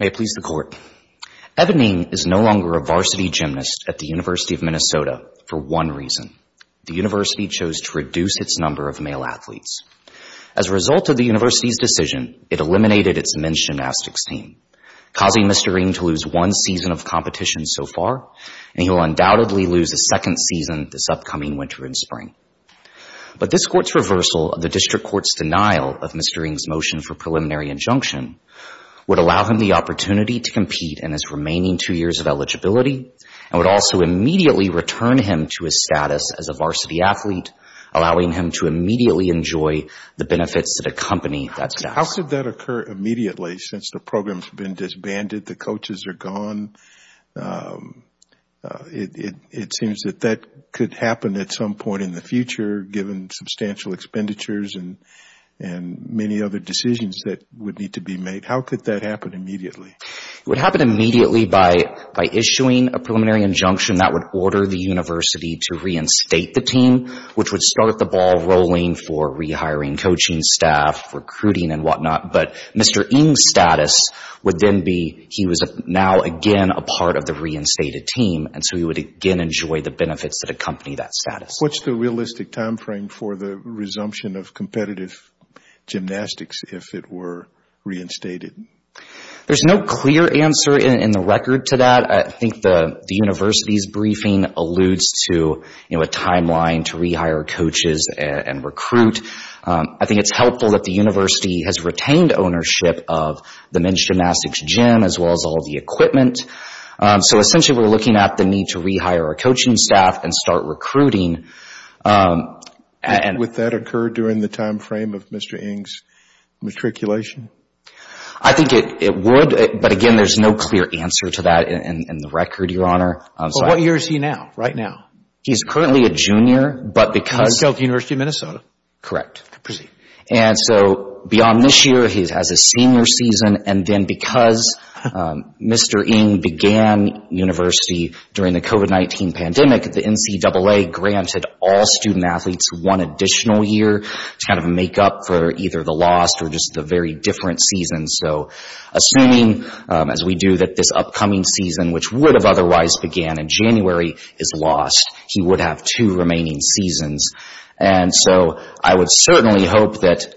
May it please the Court, Evan Ng is no longer a varsity gymnast at the University of Minnesota for one reason. The university chose to reduce its number of male athletes. As a result of the university's decision, it eliminated its men's gymnastics team, causing Mr. Ng to lose one season of competition so far, and he will undoubtedly lose a second season this upcoming winter and spring. But this Court's reversal of the District Court's denial of Mr. Ng's motion for preliminary injunction would allow him the opportunity to compete in his remaining two years of eligibility, and would also immediately return him to his status as a varsity athlete, allowing him to immediately enjoy the benefits that accompany that status. How could that occur immediately, since the program has been disbanded, the coaches are gone? It seems that that could happen at some point in the future, given substantial expenditures and many other decisions that would need to be made. How could that happen immediately? It would happen immediately by issuing a preliminary injunction that would order the university to reinstate the team, which would start the ball rolling for rehiring coaching staff, recruiting and whatnot. But Mr. Ng's status would then be, he was now again a part of the reinstated team, and so he would again enjoy the benefits that accompany that status. What's the realistic timeframe for the resumption of competitive gymnastics if it were reinstated? There's no clear answer in the record to that. I think the university's briefing alludes to a timeline to rehire coaches and recruit. I think it's helpful that the university has retained ownership of the men's gymnastics gym, as well as all the equipment. So essentially we're looking at the need to rehire our coaching staff and start recruiting. Would that occur during the timeframe of Mr. Ng's matriculation? I think it would, but again, there's no clear answer to that in the record, Your Honor. What year is he now, right now? He's currently a junior, but because- He's still at the University of Minnesota. Correct. Beyond this year, he has his senior season. Then because Mr. Ng began university during the COVID-19 pandemic, the NCAA granted all student-athletes one additional year to kind of make up for either the lost or just the very different seasons. So assuming, as we do, that this upcoming season, which would have otherwise began in January, is lost, he would have two remaining seasons. And so I would certainly hope that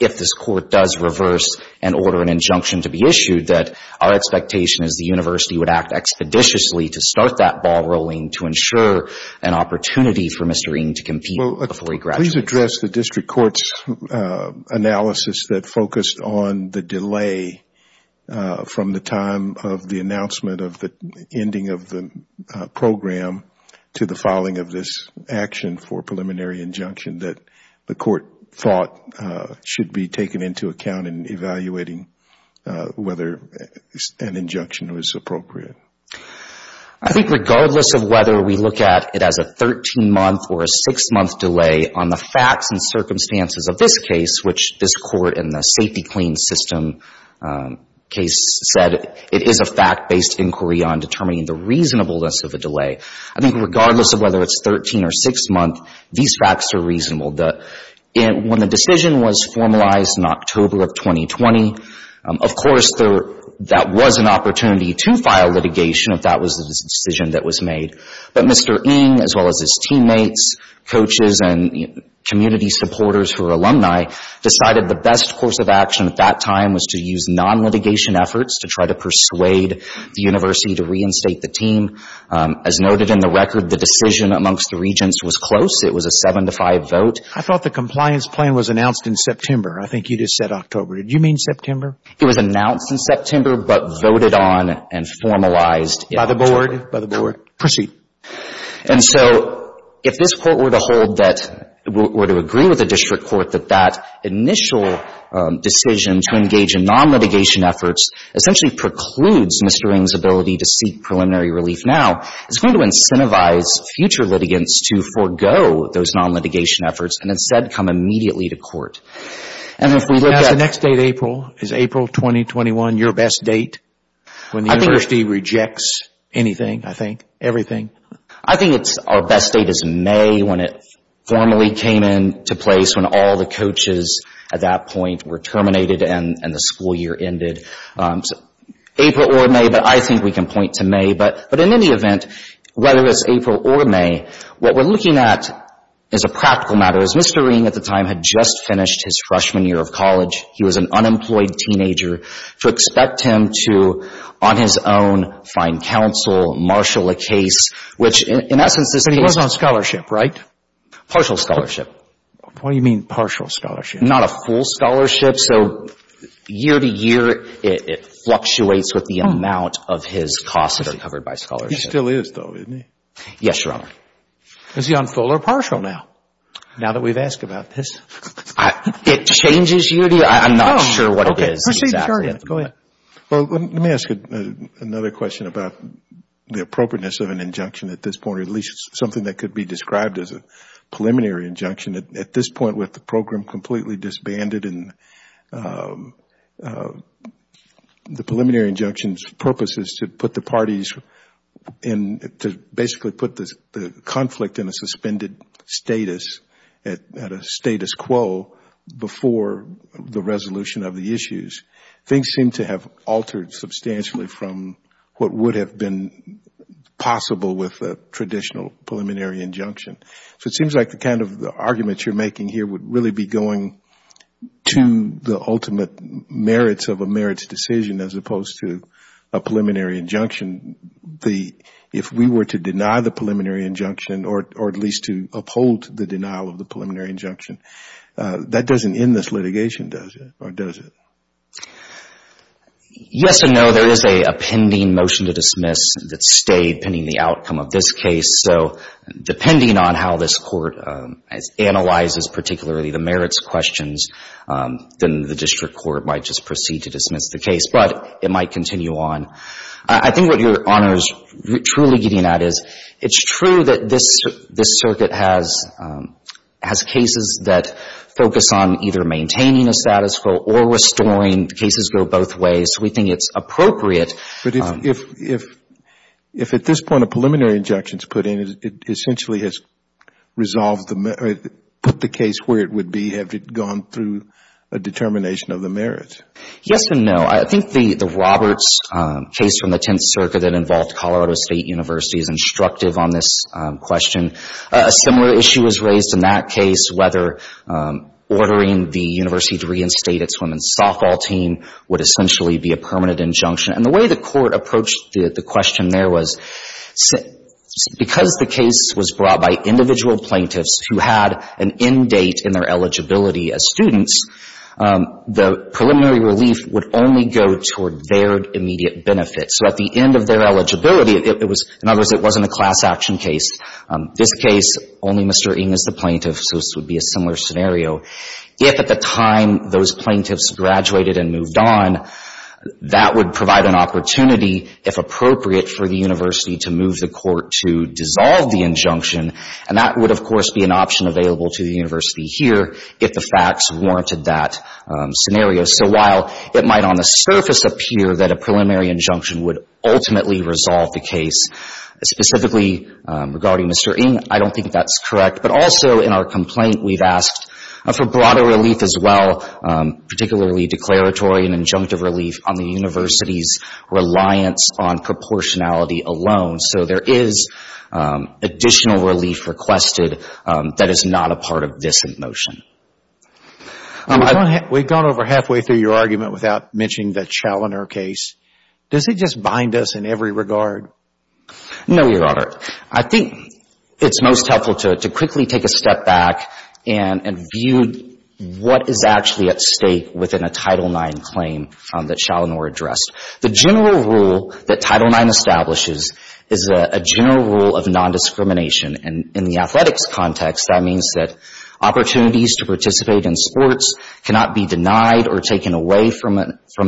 if this court does reverse and order an injunction to be issued, that our expectation is the university would act expeditiously to start that ball rolling to ensure an opportunity for Mr. Ng to compete before he graduates. Please address the district court's analysis that focused on the delay from the time of the announcement of the ending of the program to the filing of this action for preliminary injunction that the court thought should be taken into account in evaluating whether an injunction is appropriate. I think regardless of whether we look at it as a 13-month or a 6-month delay on the facts and circumstances of this case, which this court in the safety clean system case said it is a fact-based inquiry on determining the reasonableness of a delay, I think regardless of whether it's 13 or 6-month, these facts are reasonable. When the decision was formalized in October of 2020, of course, that was an opportunity to file litigation if that was the decision that was made. But Mr. Ng, as well as his teammates, coaches and community supporters who are alumni, decided the best course of action at that time was to use non-litigation efforts to try to persuade the university to reinstate the team. As noted in the record, the decision amongst the regents was close. It was a 7-to-5 vote. I thought the compliance plan was announced in September. I think you just said October. Did you mean September? It was announced in September but voted on and formalized in October. By the board? By the board. Proceed. And so if this Court were to hold that — were to agree with the district court that that initial decision to engage in non-litigation efforts essentially precludes Mr. Ng's ability to seek preliminary relief now, it's going to incentivize future litigants to forego those non-litigation efforts and instead come immediately to court. And if we look at — So now is the next date April? Is April 2021 your best date when the university rejects anything, I think, everything? I think our best date is May when it formally came into place, when all the coaches at that point were terminated and the school year ended. April or May, but I think we can point to May. But in any event, whether it's April or May, what we're looking at is a practical matter. As Mr. Ng at the time had just finished his freshman year of college, he was an unemployed teenager, to expect him to, on his own, find counsel, marshal a case, which in essence is — But he was on scholarship, right? Partial scholarship. What do you mean partial scholarship? Not a full scholarship. So year to year, it fluctuates with the amount of his costs that are covered by scholarship. He still is though, isn't he? Yes, Your Honor. Is he on full or partial now? Now that we've asked about this. It changes year to year. I'm not sure what it is exactly. Okay. Proceed. Go ahead. Well, let me ask another question about the appropriateness of an injunction at this point, or at least something that could be described as a preliminary injunction. At this point, with the program completely disbanded and the preliminary injunction's purpose is to put the parties in — to basically put the conflict in a suspended status, at a status quo before the resolution of the issues. Things seem to have altered substantially from what would have been possible with a traditional preliminary injunction. So it seems like the kind of argument you're making here would really be going to the ultimate merits of a merits decision as opposed to a preliminary injunction. If we were to deny the preliminary injunction or at least to uphold the denial of the preliminary injunction, that doesn't end this litigation, does it? Or does it? Yes and no. There is a pending motion to dismiss that stayed pending the outcome of this case. So depending on how this Court analyzes particularly the merits questions, then the district court might just proceed to dismiss the case. But it might continue on. I think what Your Honor is truly getting at is it's true that this circuit has cases that focus on either maintaining a status quo or restoring. Cases go both ways. So we think it's appropriate. But if at this point a preliminary injunction is put in, it essentially has put the case where it would be had it gone through a determination of the merits. Yes and no. I think the Roberts case from the Tenth Circuit that involved Colorado State University is instructive on this question. A similar issue was raised in that case whether ordering the university to reinstate its women's softball team would essentially be a permanent injunction. And the way the Court approached the question there was because the case was brought by individual plaintiffs who had an end date in their eligibility as students, the preliminary relief would only go toward their immediate benefit. So at the end of their eligibility, it was — in other words, it wasn't a class action case. This case, only Mr. Ng is the plaintiff, so this would be a similar scenario. If at the time those would provide an opportunity, if appropriate, for the university to move the Court to dissolve the injunction, and that would, of course, be an option available to the university here if the facts warranted that scenario. So while it might on the surface appear that a preliminary injunction would ultimately resolve the case, specifically regarding Mr. Ng, I don't think that's correct. But also in our complaint, we've asked for broader relief as well, particularly declaratory and injunctive relief on the university's reliance on proportionality alone. So there is additional relief requested that is not a part of this motion. We've gone over halfway through your argument without mentioning the Chaloner case. Does it just bind us in every regard? No, Your Honor. I think it's most helpful to quickly take a step back and view what is actually at stake within a Title IX claim that Chaloner addressed. The general rule that Title IX establishes is a general rule of nondiscrimination. And in the athletics context, that means that opportunities to participate in sports cannot be denied or taken away from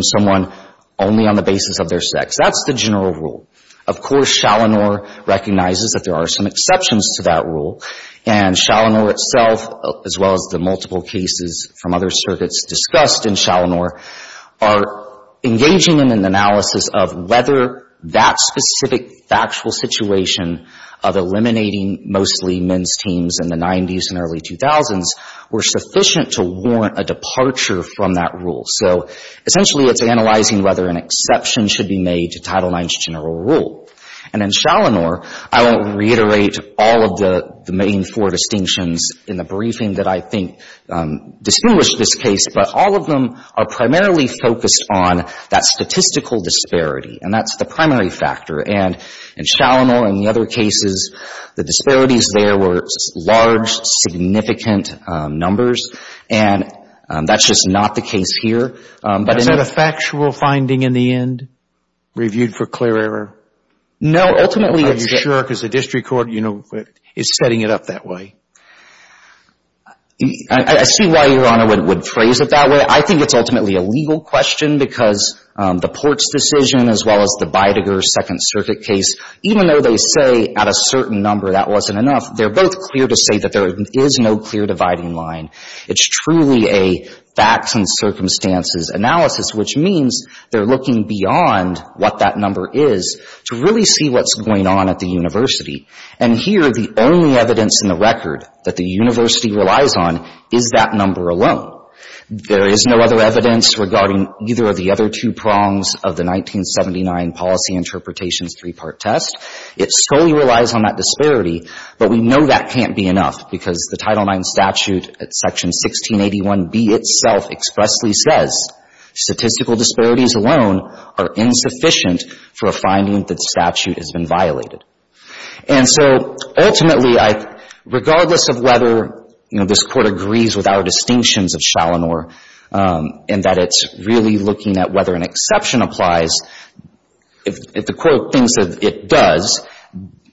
someone only on the basis of their sex. That's the general rule. Of course, Chaloner recognizes that there are some exceptions to that rule. And Chaloner itself, as well as the multiple cases from other circuits discussed in Chaloner, are engaging in an analysis of whether that specific factual situation of eliminating mostly men's teams in the 90s and early 2000s were sufficient to warrant a departure from that rule. So essentially it's analyzing whether an exception should be made to Title IX's general rule. And in Chaloner, I won't reiterate all of the main four distinctions in the briefing that I think distinguish this case, but all of them are primarily focused on that statistical disparity. And that's the primary factor. And in Chaloner and the other cases, the disparities there were large, significant numbers. And that's just not the case here. Is that a factual finding in the end, reviewed for clear error? No, ultimately it's... Are you sure? Because the district court is setting it up that way. I see why Your Honor would phrase it that way. I think it's ultimately a legal question because the Ports decision, as well as the Beidiger Second Circuit case, even though they say at a certain number that wasn't enough, they're both clear to say that there is no clear dividing line. It's truly a facts and circumstances analysis, which means they're looking beyond what that number is to really see what's going on at the university. And here the only evidence in the record that the university relies on is that number alone. There is no other evidence regarding either of the other two prongs of the 1979 policy interpretations three-part test. It solely relies on that disparity. But we know that in statute section 1681B itself expressly says statistical disparities alone are insufficient for a finding that statute has been violated. And so ultimately, regardless of whether, you know, this Court agrees with our distinctions of Shalinor in that it's really looking at whether an exception applies, if the Court thinks that it does,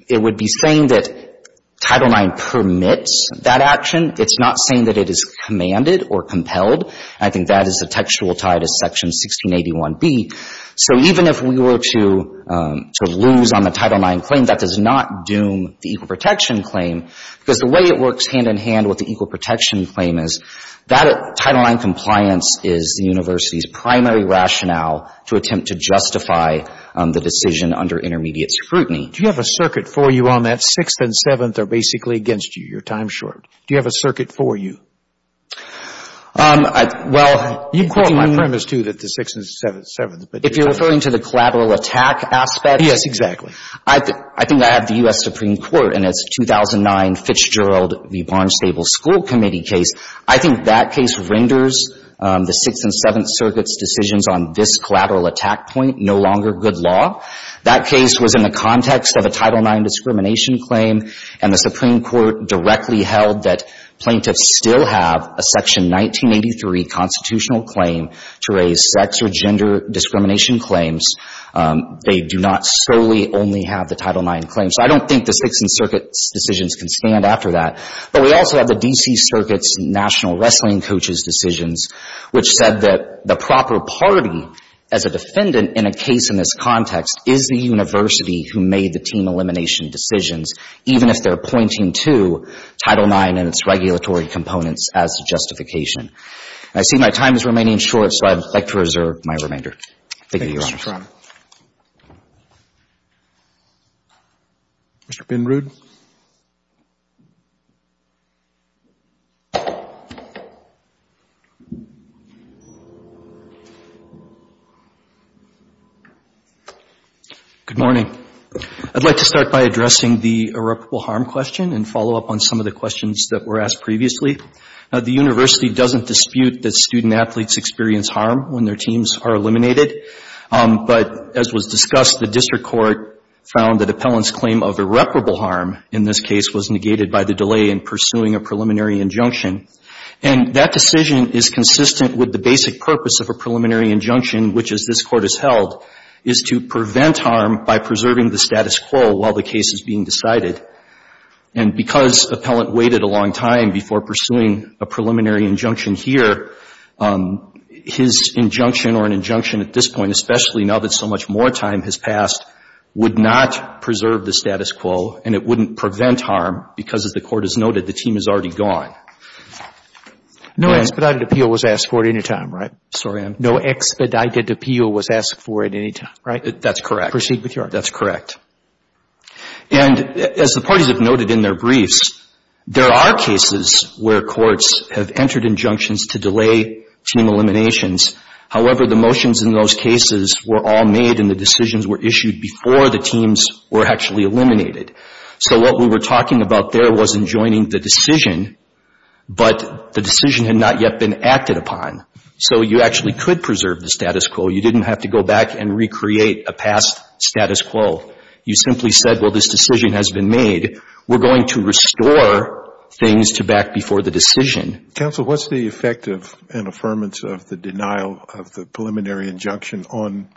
it would be saying that Title IX permits that action. It's not saying that it is commanded or compelled. I think that is the textual tie to section 1681B. So even if we were to sort of lose on the Title IX claim, that does not doom the equal protection claim because the way it works hand-in-hand with the equal protection claim is that Title IX compliance is the university's primary rationale to attempt to justify the decision under intermediate scrutiny. Do you have a circuit for you on that Sixth and Seventh are basically against you? Your time's short. Do you have a circuit for you? Well, I think... You quote my premise, too, that the Sixth and Seventh... If you're referring to the collateral attack aspect... Yes, exactly. I think I have the U.S. Supreme Court in its 2009 Fitch-Gerald v. Barnstable School Committee case. I think that case renders the Sixth and Seventh Circuit's decisions on this collateral attack point no longer good law. That case was in the context of a Title IX discrimination claim, and the Supreme Court directly held that plaintiffs still have a Section 1983 constitutional claim to raise sex or gender discrimination claims. They do not solely only have the Title IX claim. So I don't think the Sixth and Circuit's decisions can stand after that. But we also have the D.C. Circuit's National Wrestling Coaches' decisions, which said that the proper party as a defendant in a case in this context is the university who made the team elimination decisions, even if they're pointing to Title IX and its regulatory components as a justification. I see my time is remaining short, so I'd like to reserve my remainder. Thank you, Your Honor. Thank you, Your Honor. Mr. Binrood? Good morning. I'd like to start by addressing the irreparable harm question and follow up on some of the questions that were asked previously. The university doesn't dispute that student But as was discussed, the district court found that Appellant's claim of irreparable harm in this case was negated by the delay in pursuing a preliminary injunction. And that decision is consistent with the basic purpose of a preliminary injunction, which, as this Court has held, is to prevent harm by preserving the status quo while the case is being decided. And because Appellant waited a long time before pursuing a preliminary injunction here, his injunction or an injunction at this point, especially now that so much more time has passed, would not preserve the status quo and it wouldn't prevent harm because, as the Court has noted, the team is already gone. No expedited appeal was asked for at any time, right? Sorry, I'm No expedited appeal was asked for at any time, right? That's correct. Proceed with your argument. That's correct. And as the parties have noted in their briefs, there are cases where courts have entered injunctions to delay team eliminations. However, the motions in those cases were all made and the decisions were issued before the teams were actually eliminated. So what we were talking about there wasn't joining the decision, but the decision had not yet been acted upon. So you actually could preserve the status quo. You didn't have to go back and recreate a past status quo. You simply said, well, this decision has been made. We're going to restore things to back before the decision. Counsel, what's the effect of an affirmance of the denial of the preliminary injunction on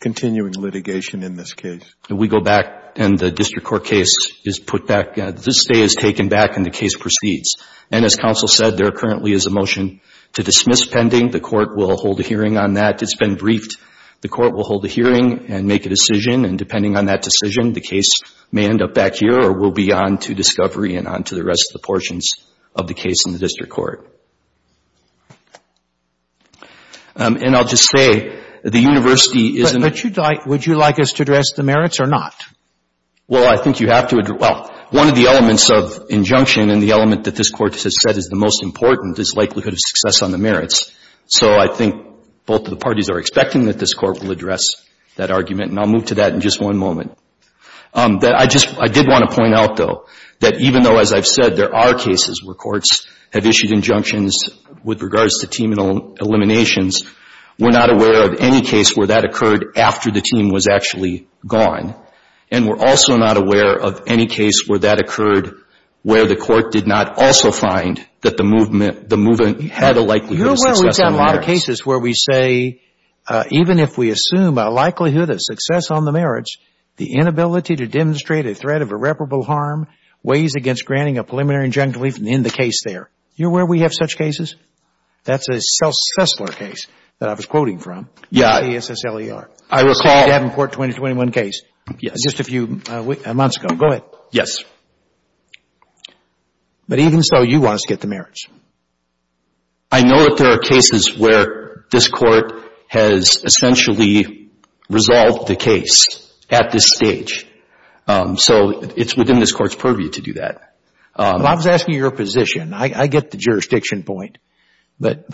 continuing litigation in this case? We go back and the district court case is put back. This day is taken back and the case proceeds. And as counsel said, there currently is a motion to dismiss pending. The court will hold a hearing on that. It's been briefed. The court will hold a hearing and make a decision. And depending on that decision, the case may end up back here or will be on to discovery and on to the rest of the portions of the case in the district court. And I'll just say, the university isn't... But would you like us to address the merits or not? Well, I think you have to address... Well, one of the elements of injunction and the element that this court has said is the most important is likelihood of success on the merits. So I think both of the parties are expecting that this court will address that argument. And I'll move to that in just one moment. I did want to point out, though, that even though as I've said, there are cases where courts have issued injunctions with regards to team eliminations, we're not aware of any case where that occurred after the team was actually gone. And we're also not aware of any case where that occurred where the court did not also find that the movement had a likelihood of success on the merits. You're aware we've done a lot of cases where we say, even if we assume a likelihood of success on the merits, the inability to demonstrate a threat of irreparable harm weighs against granting a preliminary injunctive relief in the case there. You're aware we have such cases? That's a Sessler case that I was quoting from. Yeah. The ASSLER. I recall... The Statenport 2021 case. Yes. Just a few months ago. Go ahead. Yes. But even so, you want us to get the merits. I know that there are cases where this court has essentially resolved the case at this stage. So it's within this court's purview to do that. Well, I was asking your position. I get the jurisdiction point, but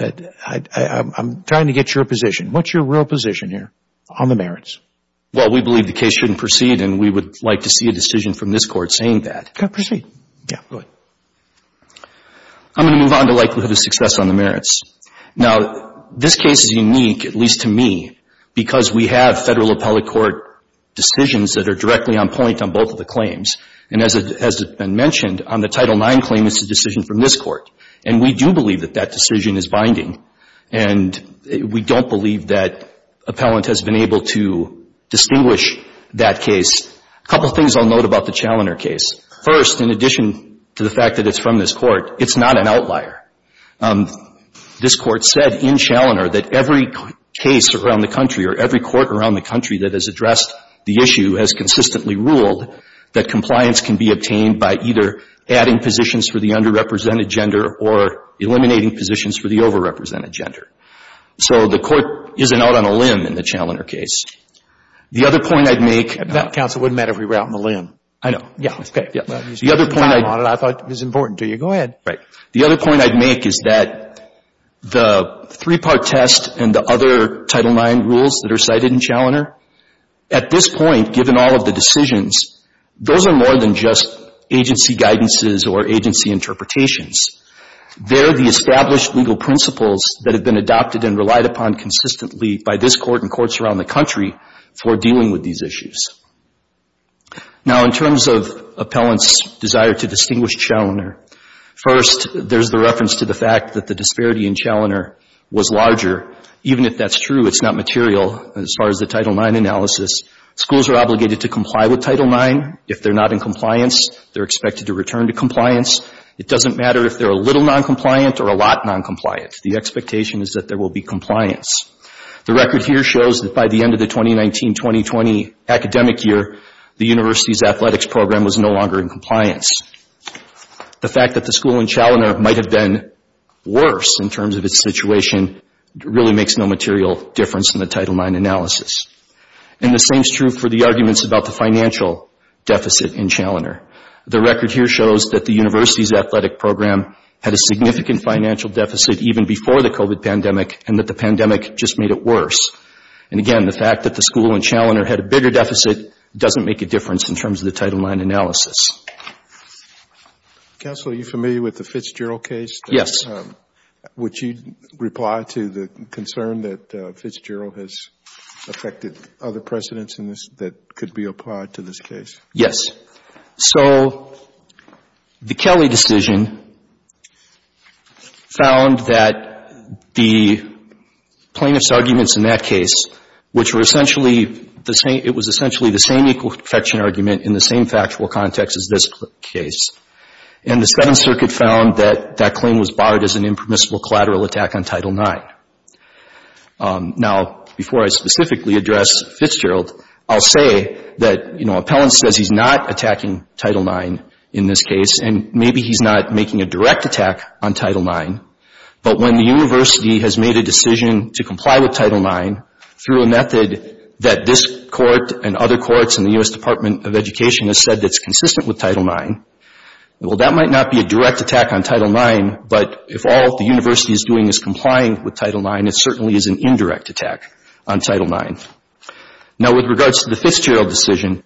I'm trying to get your position. What's your real position here on the merits? Well, we believe the case shouldn't proceed and we would like to see a decision from this court saying that. Okay. Proceed. Yeah. Go ahead. I'm going to move on to likelihood of success on the merits. Now, this case is one of five federal appellate court decisions that are directly on point on both of the claims. And as has been mentioned, on the Title IX claim, it's a decision from this court. And we do believe that that decision is binding. And we don't believe that appellant has been able to distinguish that case. A couple of things I'll note about the Chaloner case. First, in addition to the fact that it's from this court, it's not an outlier. This court said in Chaloner that every case around the country or every court around the country that has addressed the issue has consistently ruled that compliance can be obtained by either adding positions for the underrepresented gender or eliminating positions for the overrepresented gender. So the court isn't out on a limb in the Chaloner case. The other point I'd make about the other point I'd make is that the three-part test and the other Title IX rules that are cited in Chaloner, at this point, given all of the decisions, those are more than just agency guidances or agency interpretations. They're the established legal principles that have been adopted and relied upon consistently by this court and courts around the country for dealing with these issues. Now, in terms of appellant's desire to distinguish Chaloner, first, there's the if that's true, it's not material as far as the Title IX analysis. Schools are obligated to comply with Title IX. If they're not in compliance, they're expected to return to compliance. It doesn't matter if they're a little noncompliant or a lot noncompliant. The expectation is that there will be compliance. The record here shows that by the end of the 2019-2020 academic year, the university's athletics program was no longer in compliance. The fact that the school in Chaloner might have been worse in terms of its situation really makes no material difference in the Title IX analysis. And the same is true for the arguments about the financial deficit in Chaloner. The record here shows that the university's athletic program had a significant financial deficit even before the COVID pandemic and that the pandemic just made it worse. And again, the fact that the school in Chaloner had a bigger deficit doesn't make a difference in terms of the Title IX analysis. Counsel, are you familiar with the Fitzgerald case? Yes. Would you reply to the concern that Fitzgerald has affected other precedents in this that could be applied to this case? Yes. So the Kelly decision found that the plaintiff's arguments in that case, which were essentially the same, it was essentially the same equal protection argument in the same factual context as this case. And the Second Circuit found that that claim was barred as an impermissible collateral attack on Title IX. Now, before I specifically address Fitzgerald, I'll say that, you know, Appellant says he's not attacking Title IX in this case and maybe he's not making a direct attack on Title IX. But when the university has made a decision to comply with Title IX through a method that this court and other courts in the U.S. Department of Education has said that's consistent with Title IX, well, that might not be a direct attack on Title IX, but if all the university is doing is complying with Title IX, it certainly is an indirect attack on Title IX. Now, with regards to the Fitzgerald decision,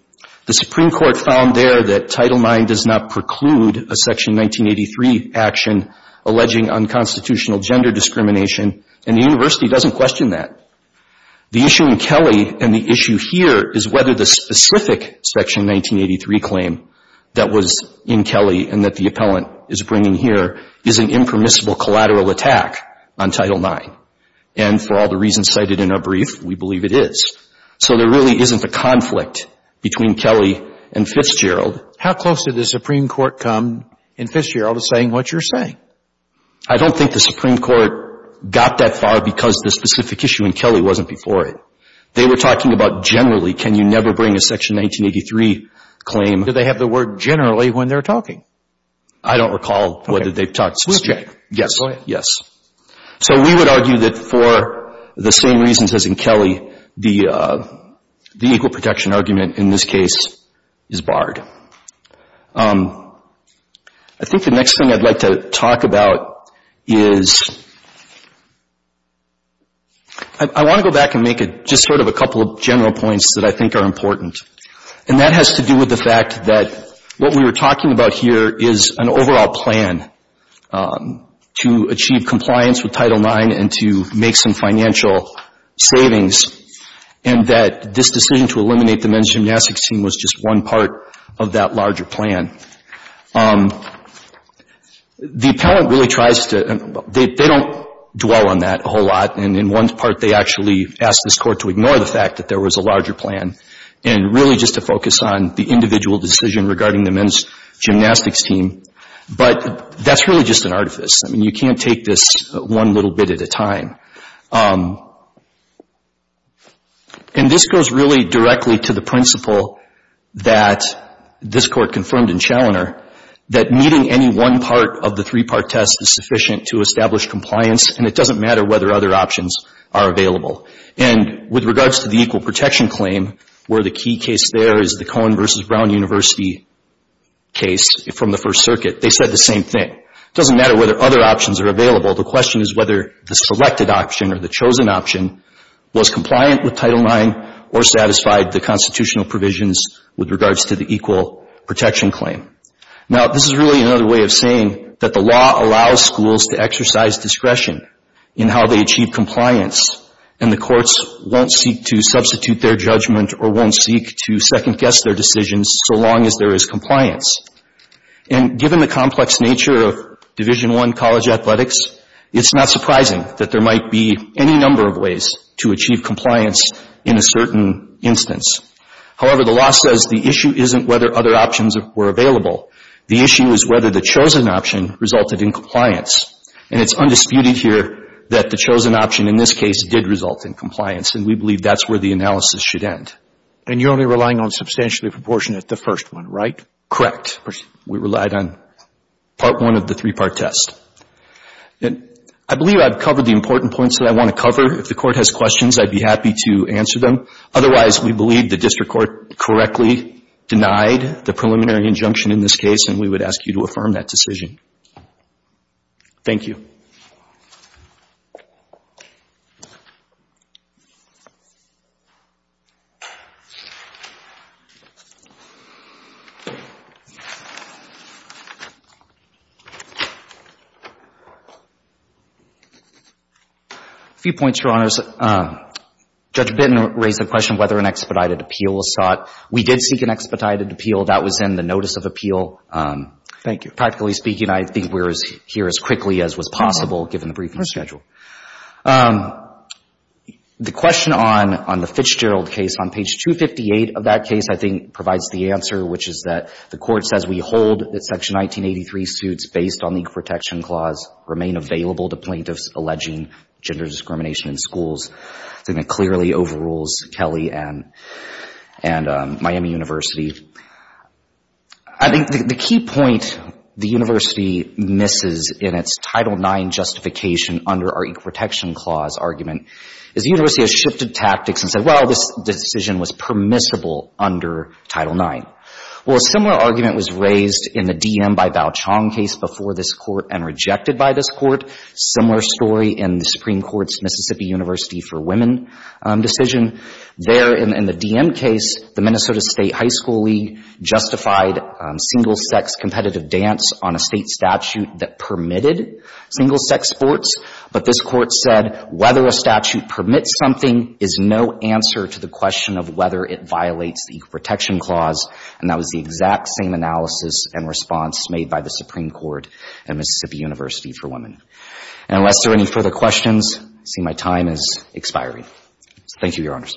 the Supreme Court found there that Title IX does not preclude a Section 1983 action alleging unconstitutional gender discrimination and the university doesn't question that. The issue in Kelly and the issue here is whether the specific Section 1983 claim that was in Kelly and that the Appellant is bringing here is an impermissible collateral attack on Title IX. And for all the reasons cited in our brief, we believe it is. So there really isn't a conflict between Kelly and Fitzgerald. How close did the Supreme Court come in Fitzgerald to saying what you're saying? I don't think the Supreme Court got that far because the specific issue in Kelly wasn't before it. They were talking about generally, can you never bring a Section 1983 claim. Do they have the word generally when they're talking? I don't recall whether they've talked specifically. Yes. Yes. So we would argue that for the same reasons as in Kelly, the equal protection argument in this case is barred. I think the next thing I'd like to talk about is I want to go back and make just sort of a couple of general points that I think are important. And that has to do with the fact that what we were talking about here is an overall plan to achieve compliance with Title IX. And we were talking about the individuals' individual savings and that this decision to eliminate the men's gymnastics team was just one part of that larger plan. The appellant really tries to — they don't dwell on that a whole lot. And in one part, they actually ask this Court to ignore the fact that there was a larger plan and really just to focus on the individual decision regarding the men's gymnastics team. But that's really just an artifice. I mean, you can't take this one little bit at a time. And this goes really directly to the principle that this Court confirmed in Chaloner that meeting any one part of the three-part test is sufficient to establish compliance and it doesn't matter whether other options are available. And with regards to the equal protection claim, where the key case there is the Cohen v. Brown University case from the First Circuit, they said the same thing. It doesn't matter whether other options are available. The question is whether the selected option or the chosen option was compliant with Title IX or satisfied the constitutional provisions with regards to the equal protection claim. Now, this is really another way of saying that the law allows schools to exercise discretion in how they achieve compliance and the courts won't seek to substitute their judgment or won't seek to second-guess their decisions so long as there is compliance. And given the complex nature of Division I college athletics, it's not surprising that there might be any number of ways to achieve compliance in a certain instance. However, the law says the issue isn't whether other options were available. The issue is whether the chosen option resulted in compliance. And it's undisputed here that the chosen option in this case did result in compliance and we believe that's where the analysis should end. And you're only relying on substantially proportionate the first one, right? Correct. We relied on Part I of the three-part test. I believe I've covered the important points that I want to cover. If the Court has questions, I'd be happy to answer them. Otherwise, we believe the District Court correctly denied the preliminary injunction in this case, and I'd be happy to confirm that decision. Thank you. A few points, Your Honors. Judge Bitton raised the question of whether an expedited appeal was sought. We did seek an expedited appeal. That was in the notice of appeal. Thank you. Practically speaking, I think we're here as quickly as was possible given the briefing schedule. The question on the Fitch-Gerald case on page 258 of that case I think provides the answer, which is that the Court says we hold that Section 1983 suits based on the Equal Protection Clause remain available to plaintiffs alleging gender discrimination in schools. I think that clearly overrules Kelly and Miami University. I think the key point the University misses in its Title IX justification under our Equal Protection Clause argument is the University has shifted tactics and said, well, this decision was permissible under Title IX. Well, a similar argument was raised in the DM by Bao Chong case before this Court and rejected by this Court. Similar story in the Supreme Court's Mississippi University for Women decision. There in the DM case, the Minnesota State High School League justified single-sex competitive dance on a state statute that permitted single-sex sports, but this Court said whether a statute permits something is no answer to the question of whether it violates the Equal Protection Clause, and that was the exact same analysis and response made by the Supreme Court and Mississippi University for Women. And unless there are any further questions, I see my time is expiring. Thank you, Your Honors.